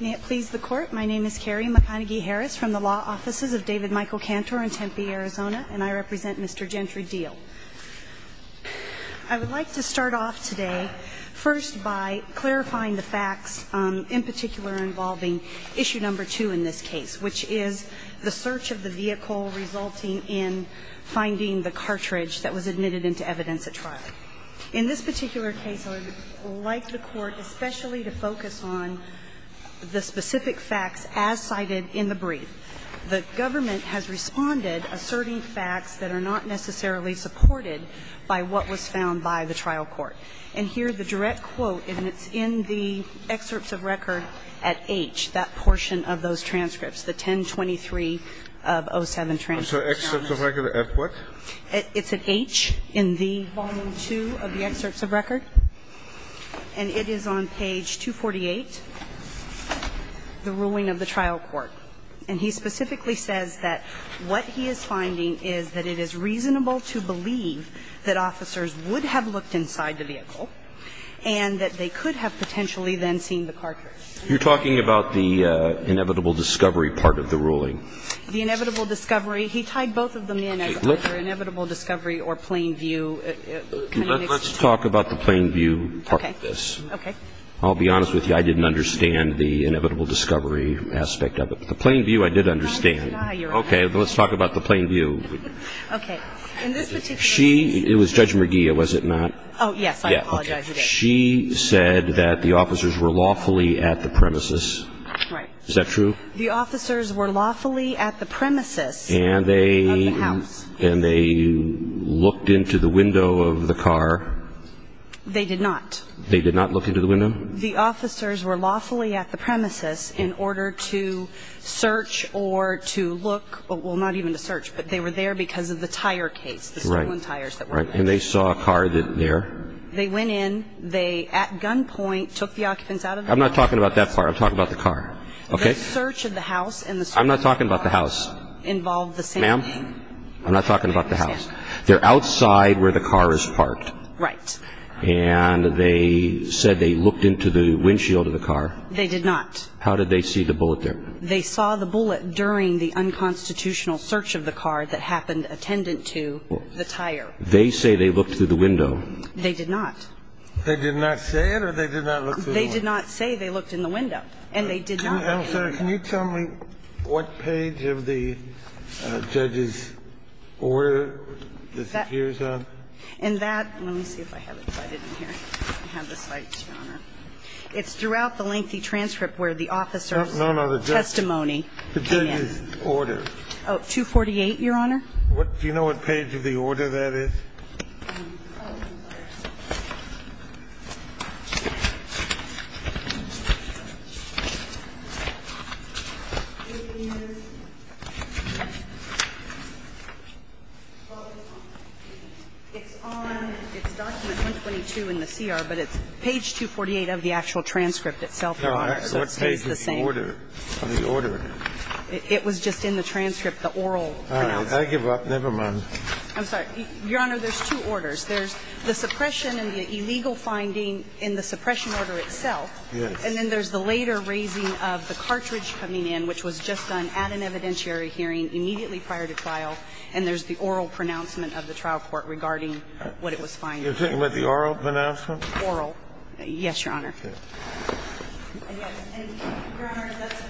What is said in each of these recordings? May it please the Court, my name is Carrie McConaghy-Harris from the Law Offices of David Michael Cantor in Tempe, Arizona, and I represent Mr. Gentry Deel. I would like to start off today first by clarifying the facts, in particular involving Issue No. 2 in this case, which is the search of the vehicle resulting in finding the cartridge that was admitted into evidence at trial. In this particular case, I would like the Court especially to focus on the specific facts as cited in the brief. The government has responded asserting facts that are not necessarily supported by what was found by the trial court. And here the direct quote, and it's in the excerpts of record at H, that portion of those transcripts, the 1023 of 07 transcripts. I'm sorry, excerpts of record at what? It's at H in the volume 2 of the excerpts of record. And it is on page 248, the ruling of the trial court. And he specifically says that what he is finding is that it is reasonable to believe that officers would have looked inside the vehicle and that they could have potentially then seen the cartridge. You're talking about the inevitable discovery part of the ruling? The inevitable discovery. He tied both of them in as either inevitable discovery or plain view. Let's talk about the plain view part of this. Okay. I'll be honest with you. I didn't understand the inevitable discovery aspect of it. But the plain view, I did understand. Okay. Let's talk about the plain view. Okay. In this particular case. She – it was Judge McGee, was it not? Oh, yes. I apologize. She said that the officers were lawfully at the premises. Right. Is that true? The officers were lawfully at the premises of the house. And they looked into the window of the car? They did not. They did not look into the window? The officers were lawfully at the premises in order to search or to look – well, not even to search, but they were there because of the tire case, the stolen tires that were there. Right. And they saw a car there? They went in. They, at gunpoint, took the occupants out of the house. I'm not talking about that car. I'm talking about the car. Okay. The search of the house and the search of the car. I'm not talking about the house. Involved the same thing. Ma'am? I'm not talking about the house. They're outside where the car is parked. Right. And they said they looked into the windshield of the car. They did not. How did they see the bullet there? They saw the bullet during the unconstitutional search of the car that happened attendant to the tire. They did not. They did not say it or they did not look through the window? They did not say they looked in the window. And they did not. Counsel, can you tell me what page of the judge's order this appears on? In that, let me see if I have it in here. I have the slides, Your Honor. It's throughout the lengthy transcript where the officer's testimony came in. No, no, the judge's order. Oh, 248, Your Honor. Do you know what page of the order that is? Oh, I'm sorry. It's on, it's document 122 in the CR, but it's page 248 of the actual transcript itself, Your Honor. So it stays the same. All right. What page of the order? It was just in the transcript, the oral. I give up. Never mind. I'm sorry. Your Honor, there's two orders. There's the suppression and the illegal finding in the suppression order itself. Yes. And then there's the later raising of the cartridge coming in, which was just done at an evidentiary hearing immediately prior to trial. And there's the oral pronouncement of the trial court regarding what it was finding. You're talking about the oral pronouncement? Oral. Yes, Your Honor. Okay. And, Your Honor, that's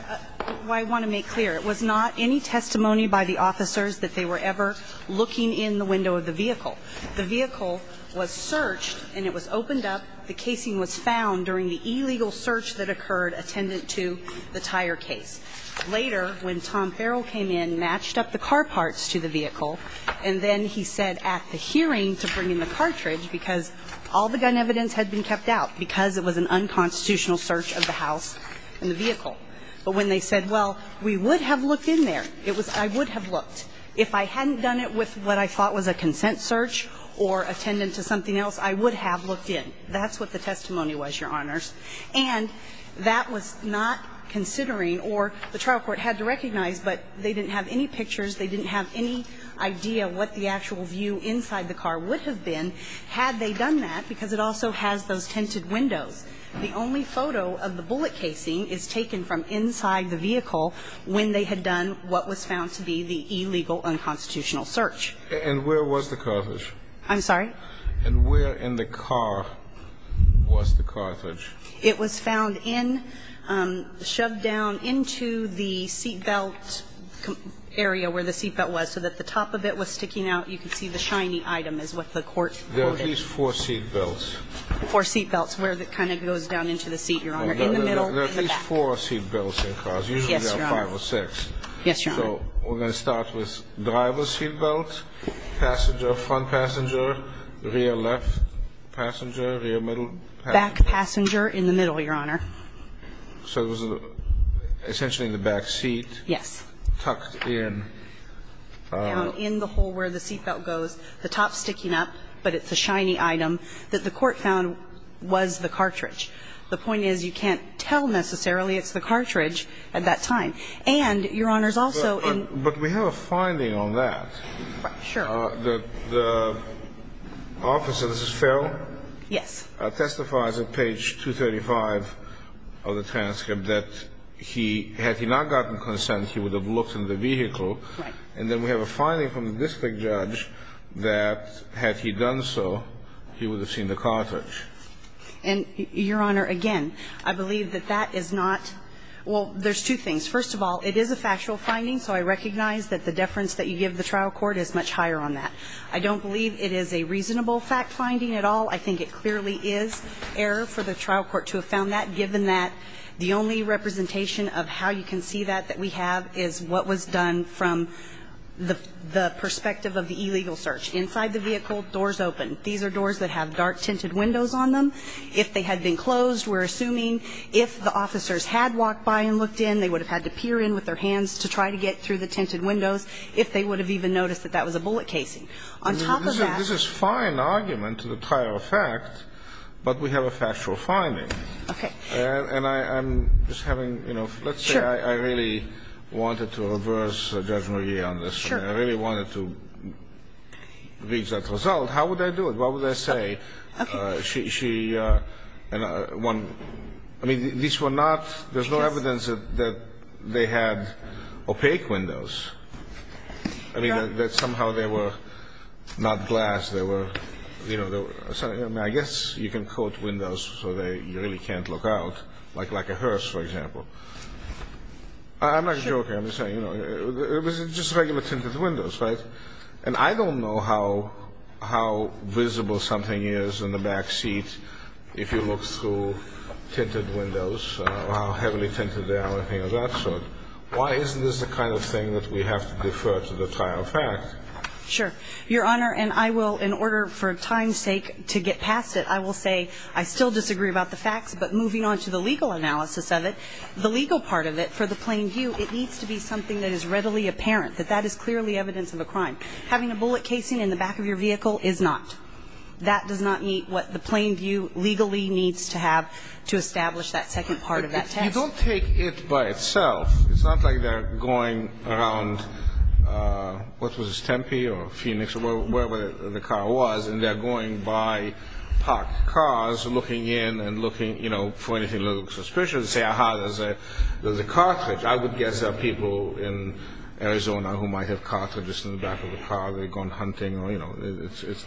why I want to make clear. It was not any testimony by the officers that they were ever looking in the window of the vehicle. The vehicle was searched and it was opened up. The casing was found during the illegal search that occurred attendant to the tire case. Later, when Tom Farrell came in, matched up the car parts to the vehicle, and then he said at the hearing to bring in the cartridge because all the gun evidence had been kept out because it was an unconstitutional search of the house and the vehicle. But when they said, well, we would have looked in there, it was I would have looked. If I hadn't done it with what I thought was a consent search or attendant to something else, I would have looked in. That's what the testimony was, Your Honors. And that was not considering, or the trial court had to recognize, but they didn't have any pictures, they didn't have any idea what the actual view inside the car would have been had they done that, because it also has those tinted windows. The only photo of the bullet casing is taken from inside the vehicle when they had done what was found to be the illegal unconstitutional search. And where was the cartridge? I'm sorry? And where in the car was the cartridge? It was found in, shoved down into the seat belt area where the seat belt was so that the top of it was sticking out. You can see the shiny item is what the court voted. There are at least four seat belts. Four seat belts, where it kind of goes down into the seat, Your Honor. In the middle and in the back. There are at least four seat belts in cars. Yes, Your Honor. Usually there are five or six. Yes, Your Honor. So we're going to start with driver's seat belt, front passenger, rear left passenger, rear middle passenger. Back passenger in the middle, Your Honor. So it was essentially in the back seat. Yes. Tucked in. Down in the hole where the seat belt goes, the top sticking up, but it's a shiny item that the court found was the cartridge. The point is you can't tell necessarily it's the cartridge at that time. And, Your Honor, is also in But we have a finding on that. Sure. The officer, this is Ferrell? Yes. Testifies at page 235 of the transcript that he, had he not gotten consent, he would have looked in the vehicle. Right. And then we have a finding from the district judge that, had he done so, he would have seen the cartridge. And, Your Honor, again, I believe that that is not, well, there's two things. First of all, it is a factual finding, so I recognize that the deference that you give the trial court is much higher on that. I don't believe it is a reasonable fact finding at all. I think it clearly is error for the trial court to have found that, given that the only representation of how you can see that that we have is what was done from the perspective of the illegal search. Inside the vehicle, doors open. These are doors that have dark tinted windows on them. If they had been closed, we're assuming if the officers had walked by and looked in, they would have had to peer in with their hands to try to get through the tinted windows, if they would have even noticed that that was a bullet casing. On top of that This is fine argument to the prior effect, but we have a factual finding. Okay. And I'm just having, you know, let's say I really wanted to reverse Judge McGee on this. Sure. I really wanted to reach that result. How would I do it? What would I say? Okay. She, and one, I mean, these were not, there's no evidence that they had opaque windows. No. I mean, that somehow they were not glass, they were, you know, I guess you can quote it. I don't know how visible something is in the backseat if you look through tinted windows or how heavily tinted they are or anything of that sort. Why isn't this the kind of thing that we have to defer to the trial of fact? Sure. Your Honor, and I will, in order for time's sake to get past it, I will say I don't I don't have any evidence that they were tinted windows. I still disagree about the facts. But moving on to the legal analysis of it, the legal part of it for the plain view, it needs to be something that is readily apparent, that that is clearly evidence of a crime. Having a bullet casing in the back of your vehicle is not. That does not meet what the plain view legally needs to have to establish that second part of that test. You don't take it by itself. It's not like they're going around, what was this, Tempe or Phoenix or wherever the car was. And they're going by parked cars, looking in and looking for anything a little suspicious. Say, aha, there's a cartridge. I would guess there are people in Arizona who might have cartridges in the back of the car. They've gone hunting. It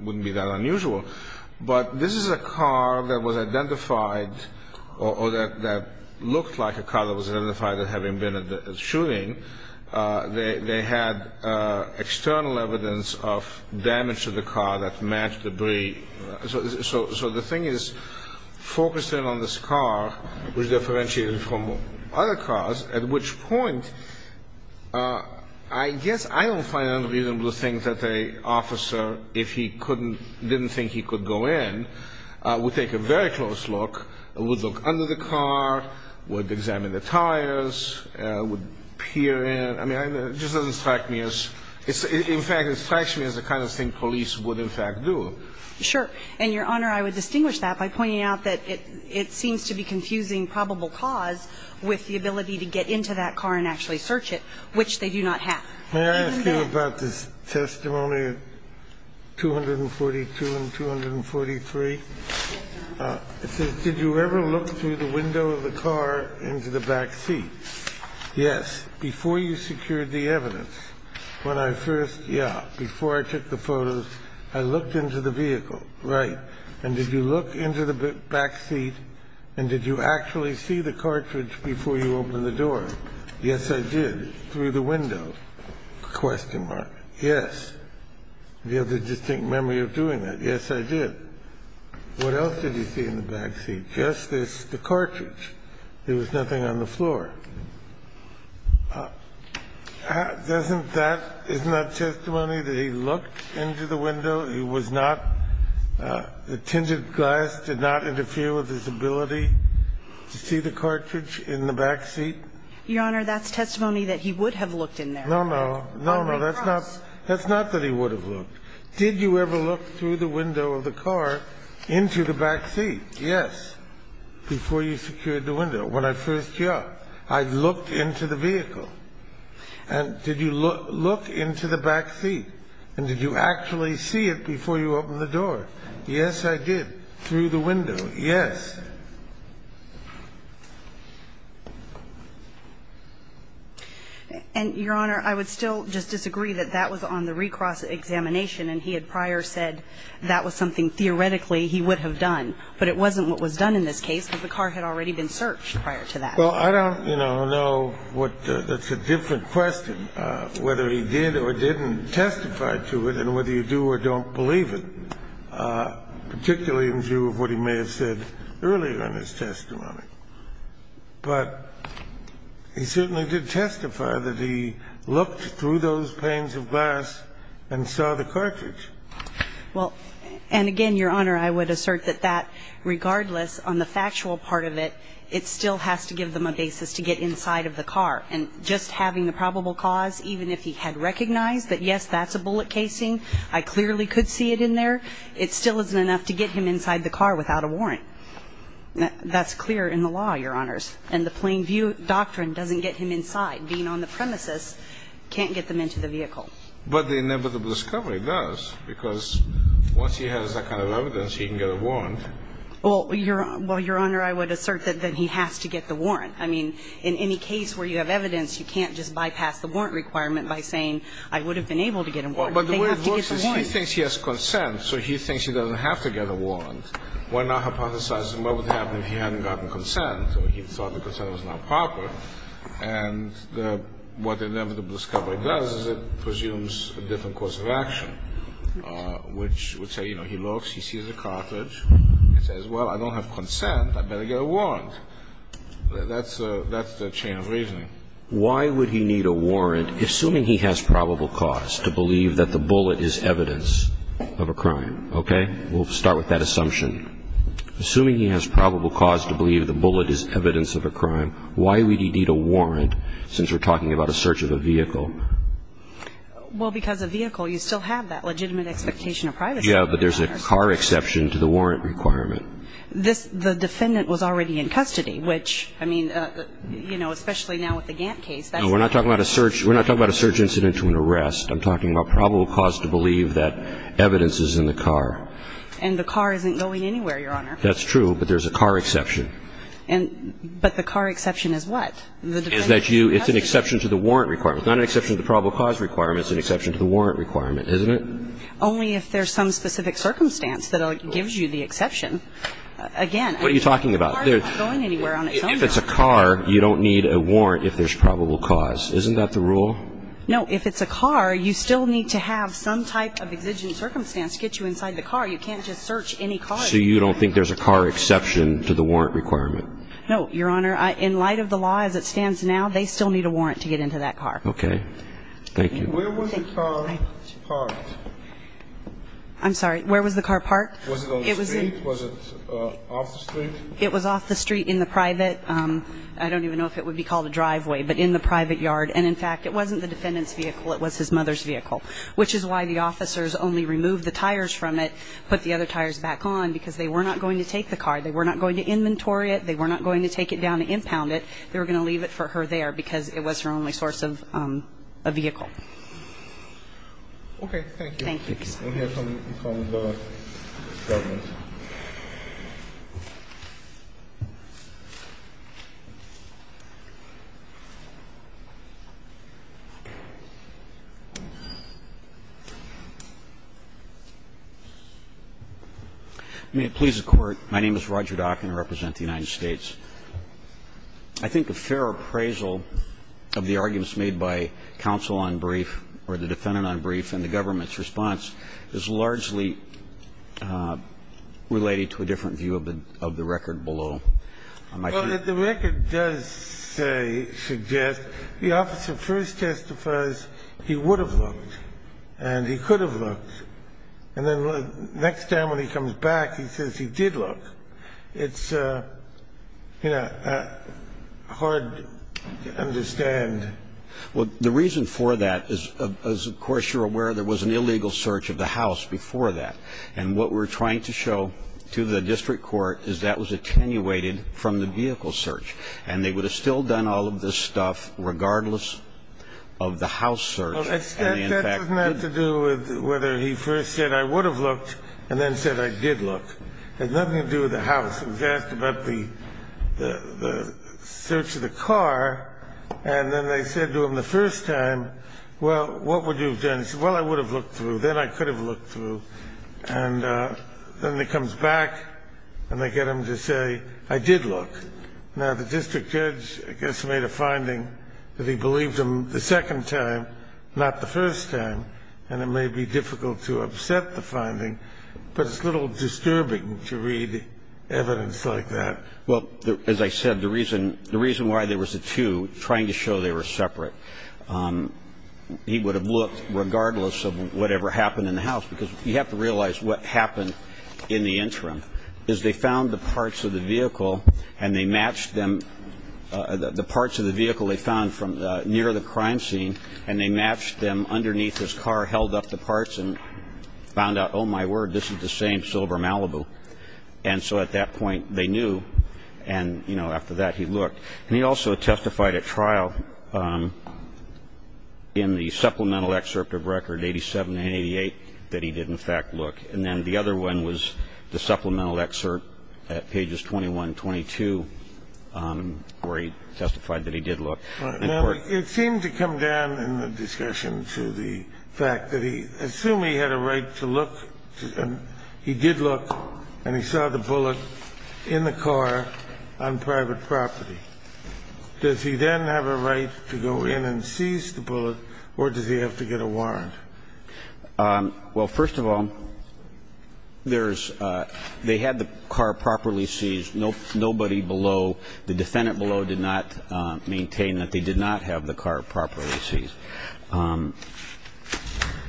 wouldn't be that unusual. But this is a car that was identified or that looked like a car that was identified as having been at the shooting. They had external evidence of damage to the car that matched debris. So the thing is, focusing on this car was differentiated from other cars, at which point, I guess I don't find it unreasonable to think that an officer, if he didn't think he could go in, would take a very close look, would look under the car, would peer in. I mean, it just doesn't strike me as – in fact, it strikes me as the kind of thing police would in fact do. Sure. And, Your Honor, I would distinguish that by pointing out that it seems to be confusing probable cause with the ability to get into that car and actually search it, which they do not have. May I ask you about this testimony 242 and 243? Yes, Your Honor. It says, Did you ever look through the window of the car into the backseat? Yes. Before you secured the evidence, when I first – yeah, before I took the photos, I looked into the vehicle. Right. And did you look into the backseat and did you actually see the cartridge before you opened the door? Yes, I did. Through the window? Yes. Do you have a distinct memory of doing that? Yes, I did. What else did you see in the backseat? Just this, the cartridge. There was nothing on the floor. Doesn't that – isn't that testimony that he looked into the window? He was not – the tinted glass did not interfere with his ability to see the cartridge in the backseat? Your Honor, that's testimony that he would have looked in there. No, no. No, no. That's not – that's not that he would have looked. Did you ever look through the window of the car into the backseat? Yes. Before you secured the window. When I first – yeah, I looked into the vehicle. And did you look into the backseat and did you actually see it before you opened the door? Yes, I did. Through the window? Yes. And, Your Honor, I would still just disagree that that was on the recross examination and he had prior said that was something theoretically he would have done. But it wasn't what was done in this case because the car had already been searched prior to that. Well, I don't, you know, know what – that's a different question, whether he did or didn't testify to it and whether you do or don't believe it, particularly in view of what he may have said earlier in his testimony. But he certainly did testify that he looked through those panes of glass and saw the the car and tailgate and looked through the window. And he made the correct decision. Well – and again, Your Honor, I would assert that that, regardless on the factual part of it, it still has to give them a basis to get inside of the car and just having the probable cause even if he had recognized that, yes, that's a bullet casing, I clearly could see it in there, it still isn't enough to get him inside the car without a warrant. That's clear in the law, Your Honors. And the plain view doctrine doesn't get him inside. Being on the premises can't get them into the vehicle. But the inevitable discovery does, because once he has that kind of evidence, he can get a warrant. Well, Your Honor, I would assert that he has to get the warrant. I mean, in any case where you have evidence, you can't just bypass the warrant requirement by saying, I would have been able to get a warrant. They have to get a warrant. But the way it works is he thinks he has consent, so he thinks he doesn't have to get a warrant. Why not hypothesize what would happen if he hadn't gotten consent? So he thought the consent was not proper. And what the inevitable discovery does is it presumes a different course of action, which would say, you know, he looks, he sees a cartridge, he says, well, I don't have consent, I better get a warrant. That's the chain of reasoning. Why would he need a warrant assuming he has probable cause to believe that the bullet is evidence of a crime? Okay? We'll start with that assumption. Assuming he has probable cause to believe the bullet is evidence of a crime, why would he need a warrant since we're talking about a search of a vehicle? Well, because a vehicle, you still have that legitimate expectation of privacy. Yeah, but there's a car exception to the warrant requirement. This, the defendant was already in custody, which, I mean, you know, especially now with the Gantt case, that's not. No, we're not talking about a search. We're not talking about a search incident to an arrest. I'm talking about probable cause to believe that evidence is in the car. And the car isn't going anywhere, Your Honor. That's true, but there's a car exception. And, but the car exception is what? Is that you, it's an exception to the warrant requirement. It's not an exception to the probable cause requirement. It's an exception to the warrant requirement, isn't it? Only if there's some specific circumstance that gives you the exception. Again. What are you talking about? The car isn't going anywhere on its own. If it's a car, you don't need a warrant if there's probable cause. Isn't that the rule? No. If it's a car, you still need to have some type of exigent circumstance to get you inside the car. You can't just search any car. So you don't think there's a car exception to the warrant requirement? No, Your Honor. In light of the law as it stands now, they still need a warrant to get into that car. Okay. Thank you. Where was the car parked? I'm sorry. Where was the car parked? Was it on the street? Was it off the street? It was off the street in the private, I don't even know if it would be called a driveway, but in the private yard. And, in fact, it wasn't the defendant's vehicle. It was his mother's vehicle. Which is why the officers only removed the tires from it, put the other tires back on, because they were not going to take the car. They were not going to inventory it. They were not going to take it down and impound it. They were going to leave it for her there because it was her only source of vehicle. Okay. Thank you. Thank you. We'll hear from the government. May it please the Court. My name is Roger Dock and I represent the United States. I think a fair appraisal of the arguments made by counsel on brief or the defendant on brief and the government's response is largely related to a different view of the record below. Well, the record does suggest the officer first testifies he would have looked and he could have looked. And then the next time when he comes back he says he did look. It's, you know, hard to understand. Well, the reason for that is, of course, you're aware there was an illegal search of the house before that. And what we're trying to show to the district court is that was attenuated from the vehicle search. And they would have still done all of this stuff regardless of the house search. That has nothing to do with whether he first said I would have looked and then said I did look. It has nothing to do with the house. He was asked about the search of the car. And then they said to him the first time, well, what would you have done? He said, well, I would have looked through. Then I could have looked through. And then he comes back and they get him to say I did look. Now, the district judge, I guess, made a finding that he believed him the second time, not the first time. And it may be difficult to upset the finding, but it's a little disturbing to read evidence like that. Well, as I said, the reason why there was a two, trying to show they were separate, he would have looked regardless of whatever happened in the house. Because you have to realize what happened in the interim is they found the parts of the vehicle and they matched them, the parts of the vehicle they found near the crime scene, and they matched them underneath his car, held up the parts and found out, oh, my word, this is the same silver Malibu. And so at that point they knew. And, you know, after that he looked. And he also testified at trial in the supplemental excerpt of Record 87 and 88 that he did in fact look. And then the other one was the supplemental excerpt at pages 21 and 22 where he testified that he did look. Now, it seemed to come down in the discussion to the fact that he assumed he had a right to look, and he did look and he saw the bullet in the car on private property. Does he then have a right to go in and seize the bullet, or does he have to get a warrant? Well, first of all, there's they had the car properly seized. Nobody below, the defendant below did not maintain that they did not have the car properly seized.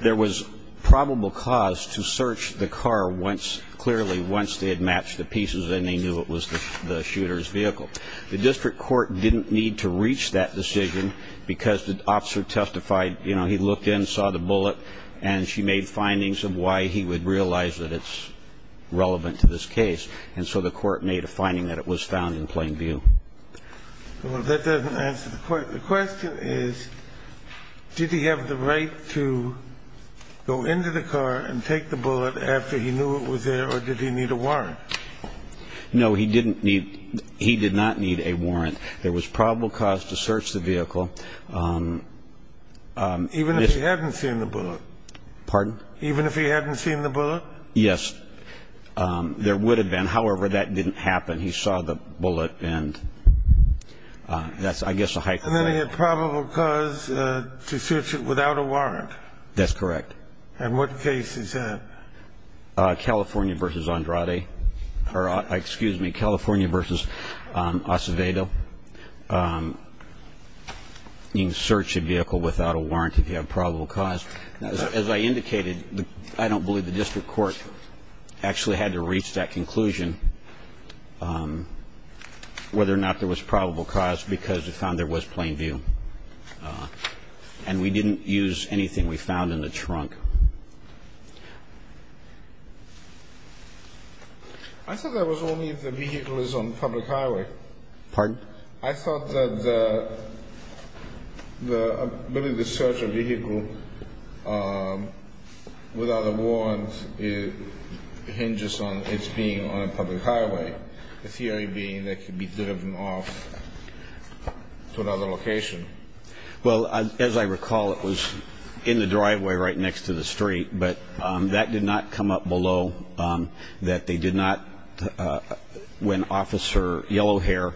There was probable cause to search the car clearly once they had matched the pieces and they knew it was the shooter's vehicle. The district court didn't need to reach that decision because the officer testified, you know, he looked in, saw the bullet, and she made findings of why he would realize that it's relevant to this case. And so the court made a finding that it was found in plain view. Well, that doesn't answer the question. The question is, did he have the right to go into the car and take the bullet after he knew it was there, or did he need a warrant? No, he didn't need he did not need a warrant. There was probable cause to search the vehicle. Even if he hadn't seen the bullet? Pardon? Even if he hadn't seen the bullet? Yes, there would have been. However, that didn't happen. He saw the bullet and that's, I guess, a hypothetical. And then he had probable cause to search it without a warrant? That's correct. And what case is that? California v. Andrade, or excuse me, California v. Acevedo. You can search a vehicle without a warrant if you have probable cause. As I indicated, I don't believe the district court actually had to reach that conclusion, whether or not there was probable cause, because it found there was plain view. And we didn't use anything we found in the trunk. I thought that was only if the vehicle is on public highway. Pardon? I thought that the ability to search a vehicle without a warrant hinges on its being on a public highway, the theory being that it could be driven off to another location. Well, as I recall, it was in the driveway right next to the street, but that did not come up below, that they did not, when Officer Yellowhair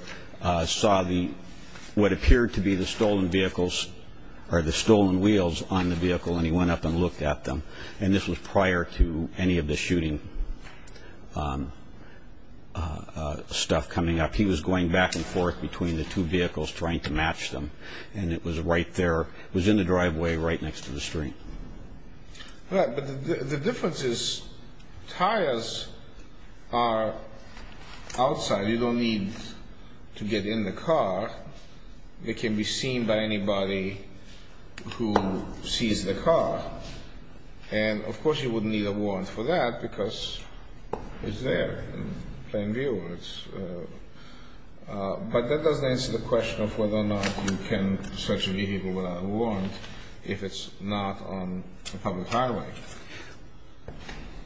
saw what appeared to be the stolen vehicles, or the stolen wheels on the vehicle, and he went up and looked at them. And this was prior to any of the shooting stuff coming up. He was going back and forth between the two vehicles trying to match them, and it was right there, it was in the driveway right next to the street. Right, but the difference is tires are outside. You don't need to get in the car. They can be seen by anybody who sees the car. And, of course, you would need a warrant for that because it's there in plain view. But that doesn't answer the question of whether or not you can search a vehicle without a warrant if it's not on a public highway.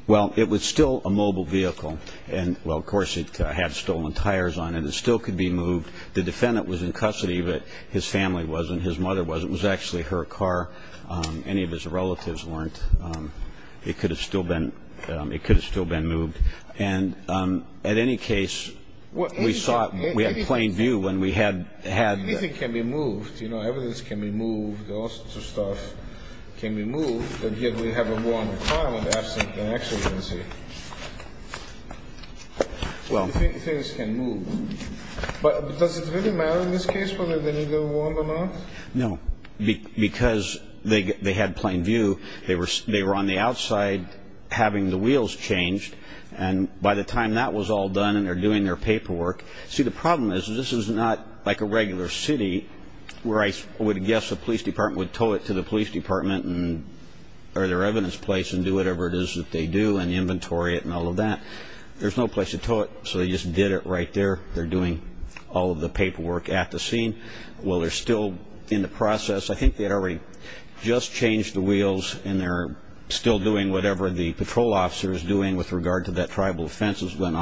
Well, it was still a mobile vehicle, and, well, of course, it had stolen tires on it. It still could be moved. The defendant was in custody, but his family wasn't, his mother wasn't. It was actually her car. Any of his relatives weren't. It could have still been moved. And, at any case, we had plain view when we had that. Anything can be moved. You know, evidence can be moved. All sorts of stuff can be moved. And here we have a warrant of crime of absent and exigency. Well, things can move. But does it really matter in this case whether they need a warrant or not? No, because they had plain view. They were on the outside having the wheels changed. And by the time that was all done and they're doing their paperwork, see, the problem is this is not like a regular city where I would guess a police department would tow it to the police department or their evidence place and do whatever it is that they do and inventory it and all of that. There's no place to tow it, so they just did it right there. They're doing all of the paperwork at the scene. Well, they're still in the process. I think they had already just changed the wheels and they're still doing whatever the patrol officer is doing with regard to that tribal offense. Did they change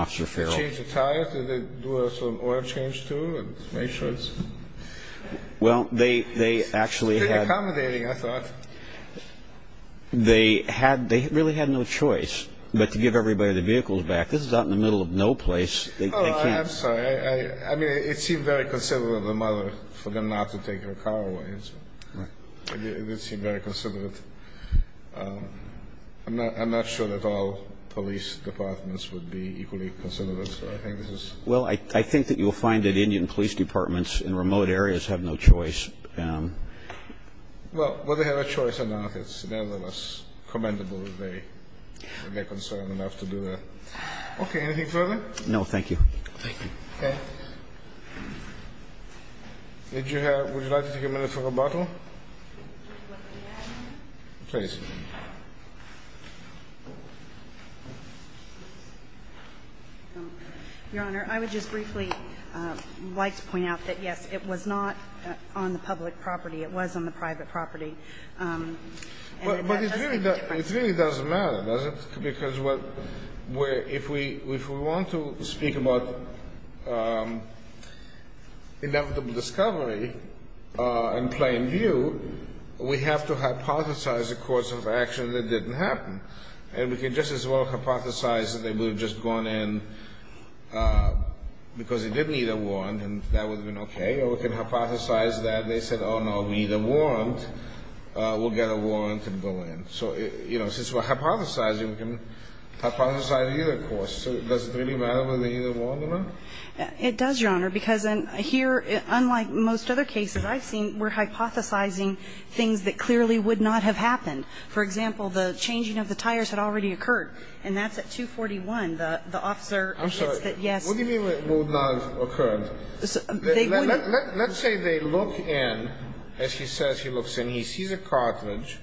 the tires? Did they do some oil change, too, and make sure it's? Well, they actually had. They're accommodating, I thought. They really had no choice but to give everybody their vehicles back. This is out in the middle of no place. Oh, I'm sorry. I mean, it seemed very considerate of the mother for them not to take her car away. It did seem very considerate. I'm not sure that all police departments would be equally considerate. Well, I think that you'll find that Indian police departments in remote areas have no choice. Well, whether they have a choice or not, it's nevertheless commendable that they're concerned enough to do that. Okay, anything further? No, thank you. Thank you. Okay. Would you like to take a minute for rebuttal? Would you like me to add anything? Please. Your Honor, I would just briefly like to point out that, yes, it was not on the public property. It was on the private property. And that doesn't make a difference. But it really doesn't matter, does it? Because if we want to speak about inevitable discovery in plain view, we have to hypothesize a course of action that didn't happen. And we can just as well hypothesize that they would have just gone in because they didn't need a warrant, and that would have been okay. Or we can hypothesize that they said, oh, no, we need a warrant. We'll get a warrant and go in. So, you know, since we're hypothesizing, we can hypothesize either course. So does it really matter whether they need a warrant or not? It does, Your Honor, because here, unlike most other cases I've seen, we're hypothesizing things that clearly would not have happened. For example, the changing of the tires had already occurred, and that's at 241. The officer admits that, yes. What do you mean it would not have occurred? Let's say they look in, as he says he looks in. He sees a cartridge,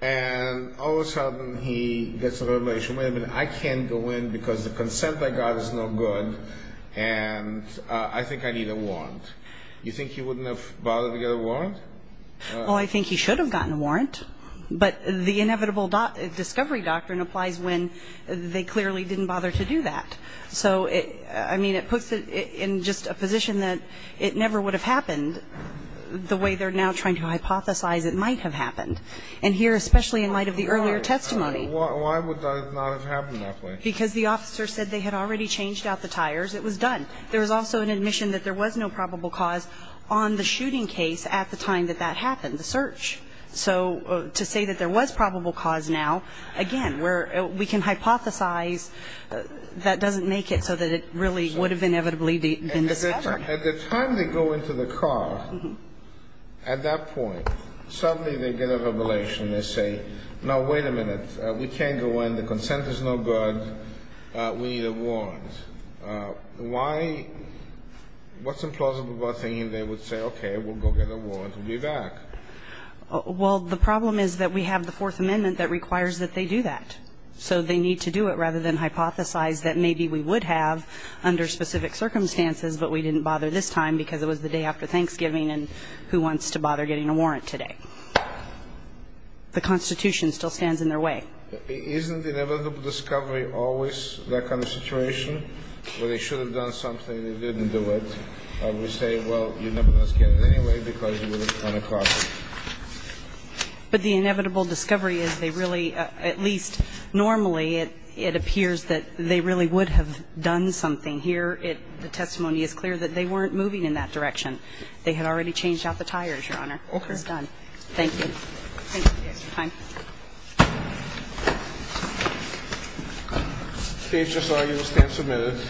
and all of a sudden he gets a revelation. Wait a minute, I can't go in because the consent by God is no good, and I think I need a warrant. You think he wouldn't have bothered to get a warrant? Well, I think he should have gotten a warrant. But the inevitable discovery doctrine applies when they clearly didn't bother to do that. So, I mean, it puts it in just a position that it never would have happened the way they're now trying to hypothesize it might have happened. And here, especially in light of the earlier testimony. Why would that not have happened that way? Because the officer said they had already changed out the tires. It was done. There was also an admission that there was no probable cause on the shooting case at the time that that happened, the search. So to say that there was probable cause now, again, we can hypothesize that doesn't make it so that it really would have inevitably been discovered. At the time they go into the car, at that point, suddenly they get a revelation. They say, no, wait a minute. We can't go in. The consent is no good. We need a warrant. Why? What's implausible about thinking they would say, okay, we'll go get a warrant and be back? Well, the problem is that we have the Fourth Amendment that requires that they do that. So they need to do it rather than hypothesize that maybe we would have under specific circumstances, but we didn't bother this time because it was the day after Thanksgiving and who wants to bother getting a warrant today? The Constitution still stands in their way. Isn't the inevitable discovery always that kind of situation where they should have done something and they didn't do it? We say, well, you never know what's going to happen anyway because you were on a car. But the inevitable discovery is they really, at least normally, it appears that they really would have done something. Here, the testimony is clear that they weren't moving in that direction. They had already changed out the tires, Your Honor. Okay. It was done. Thank you. Thank you for your time. Page SRU, stand submitted.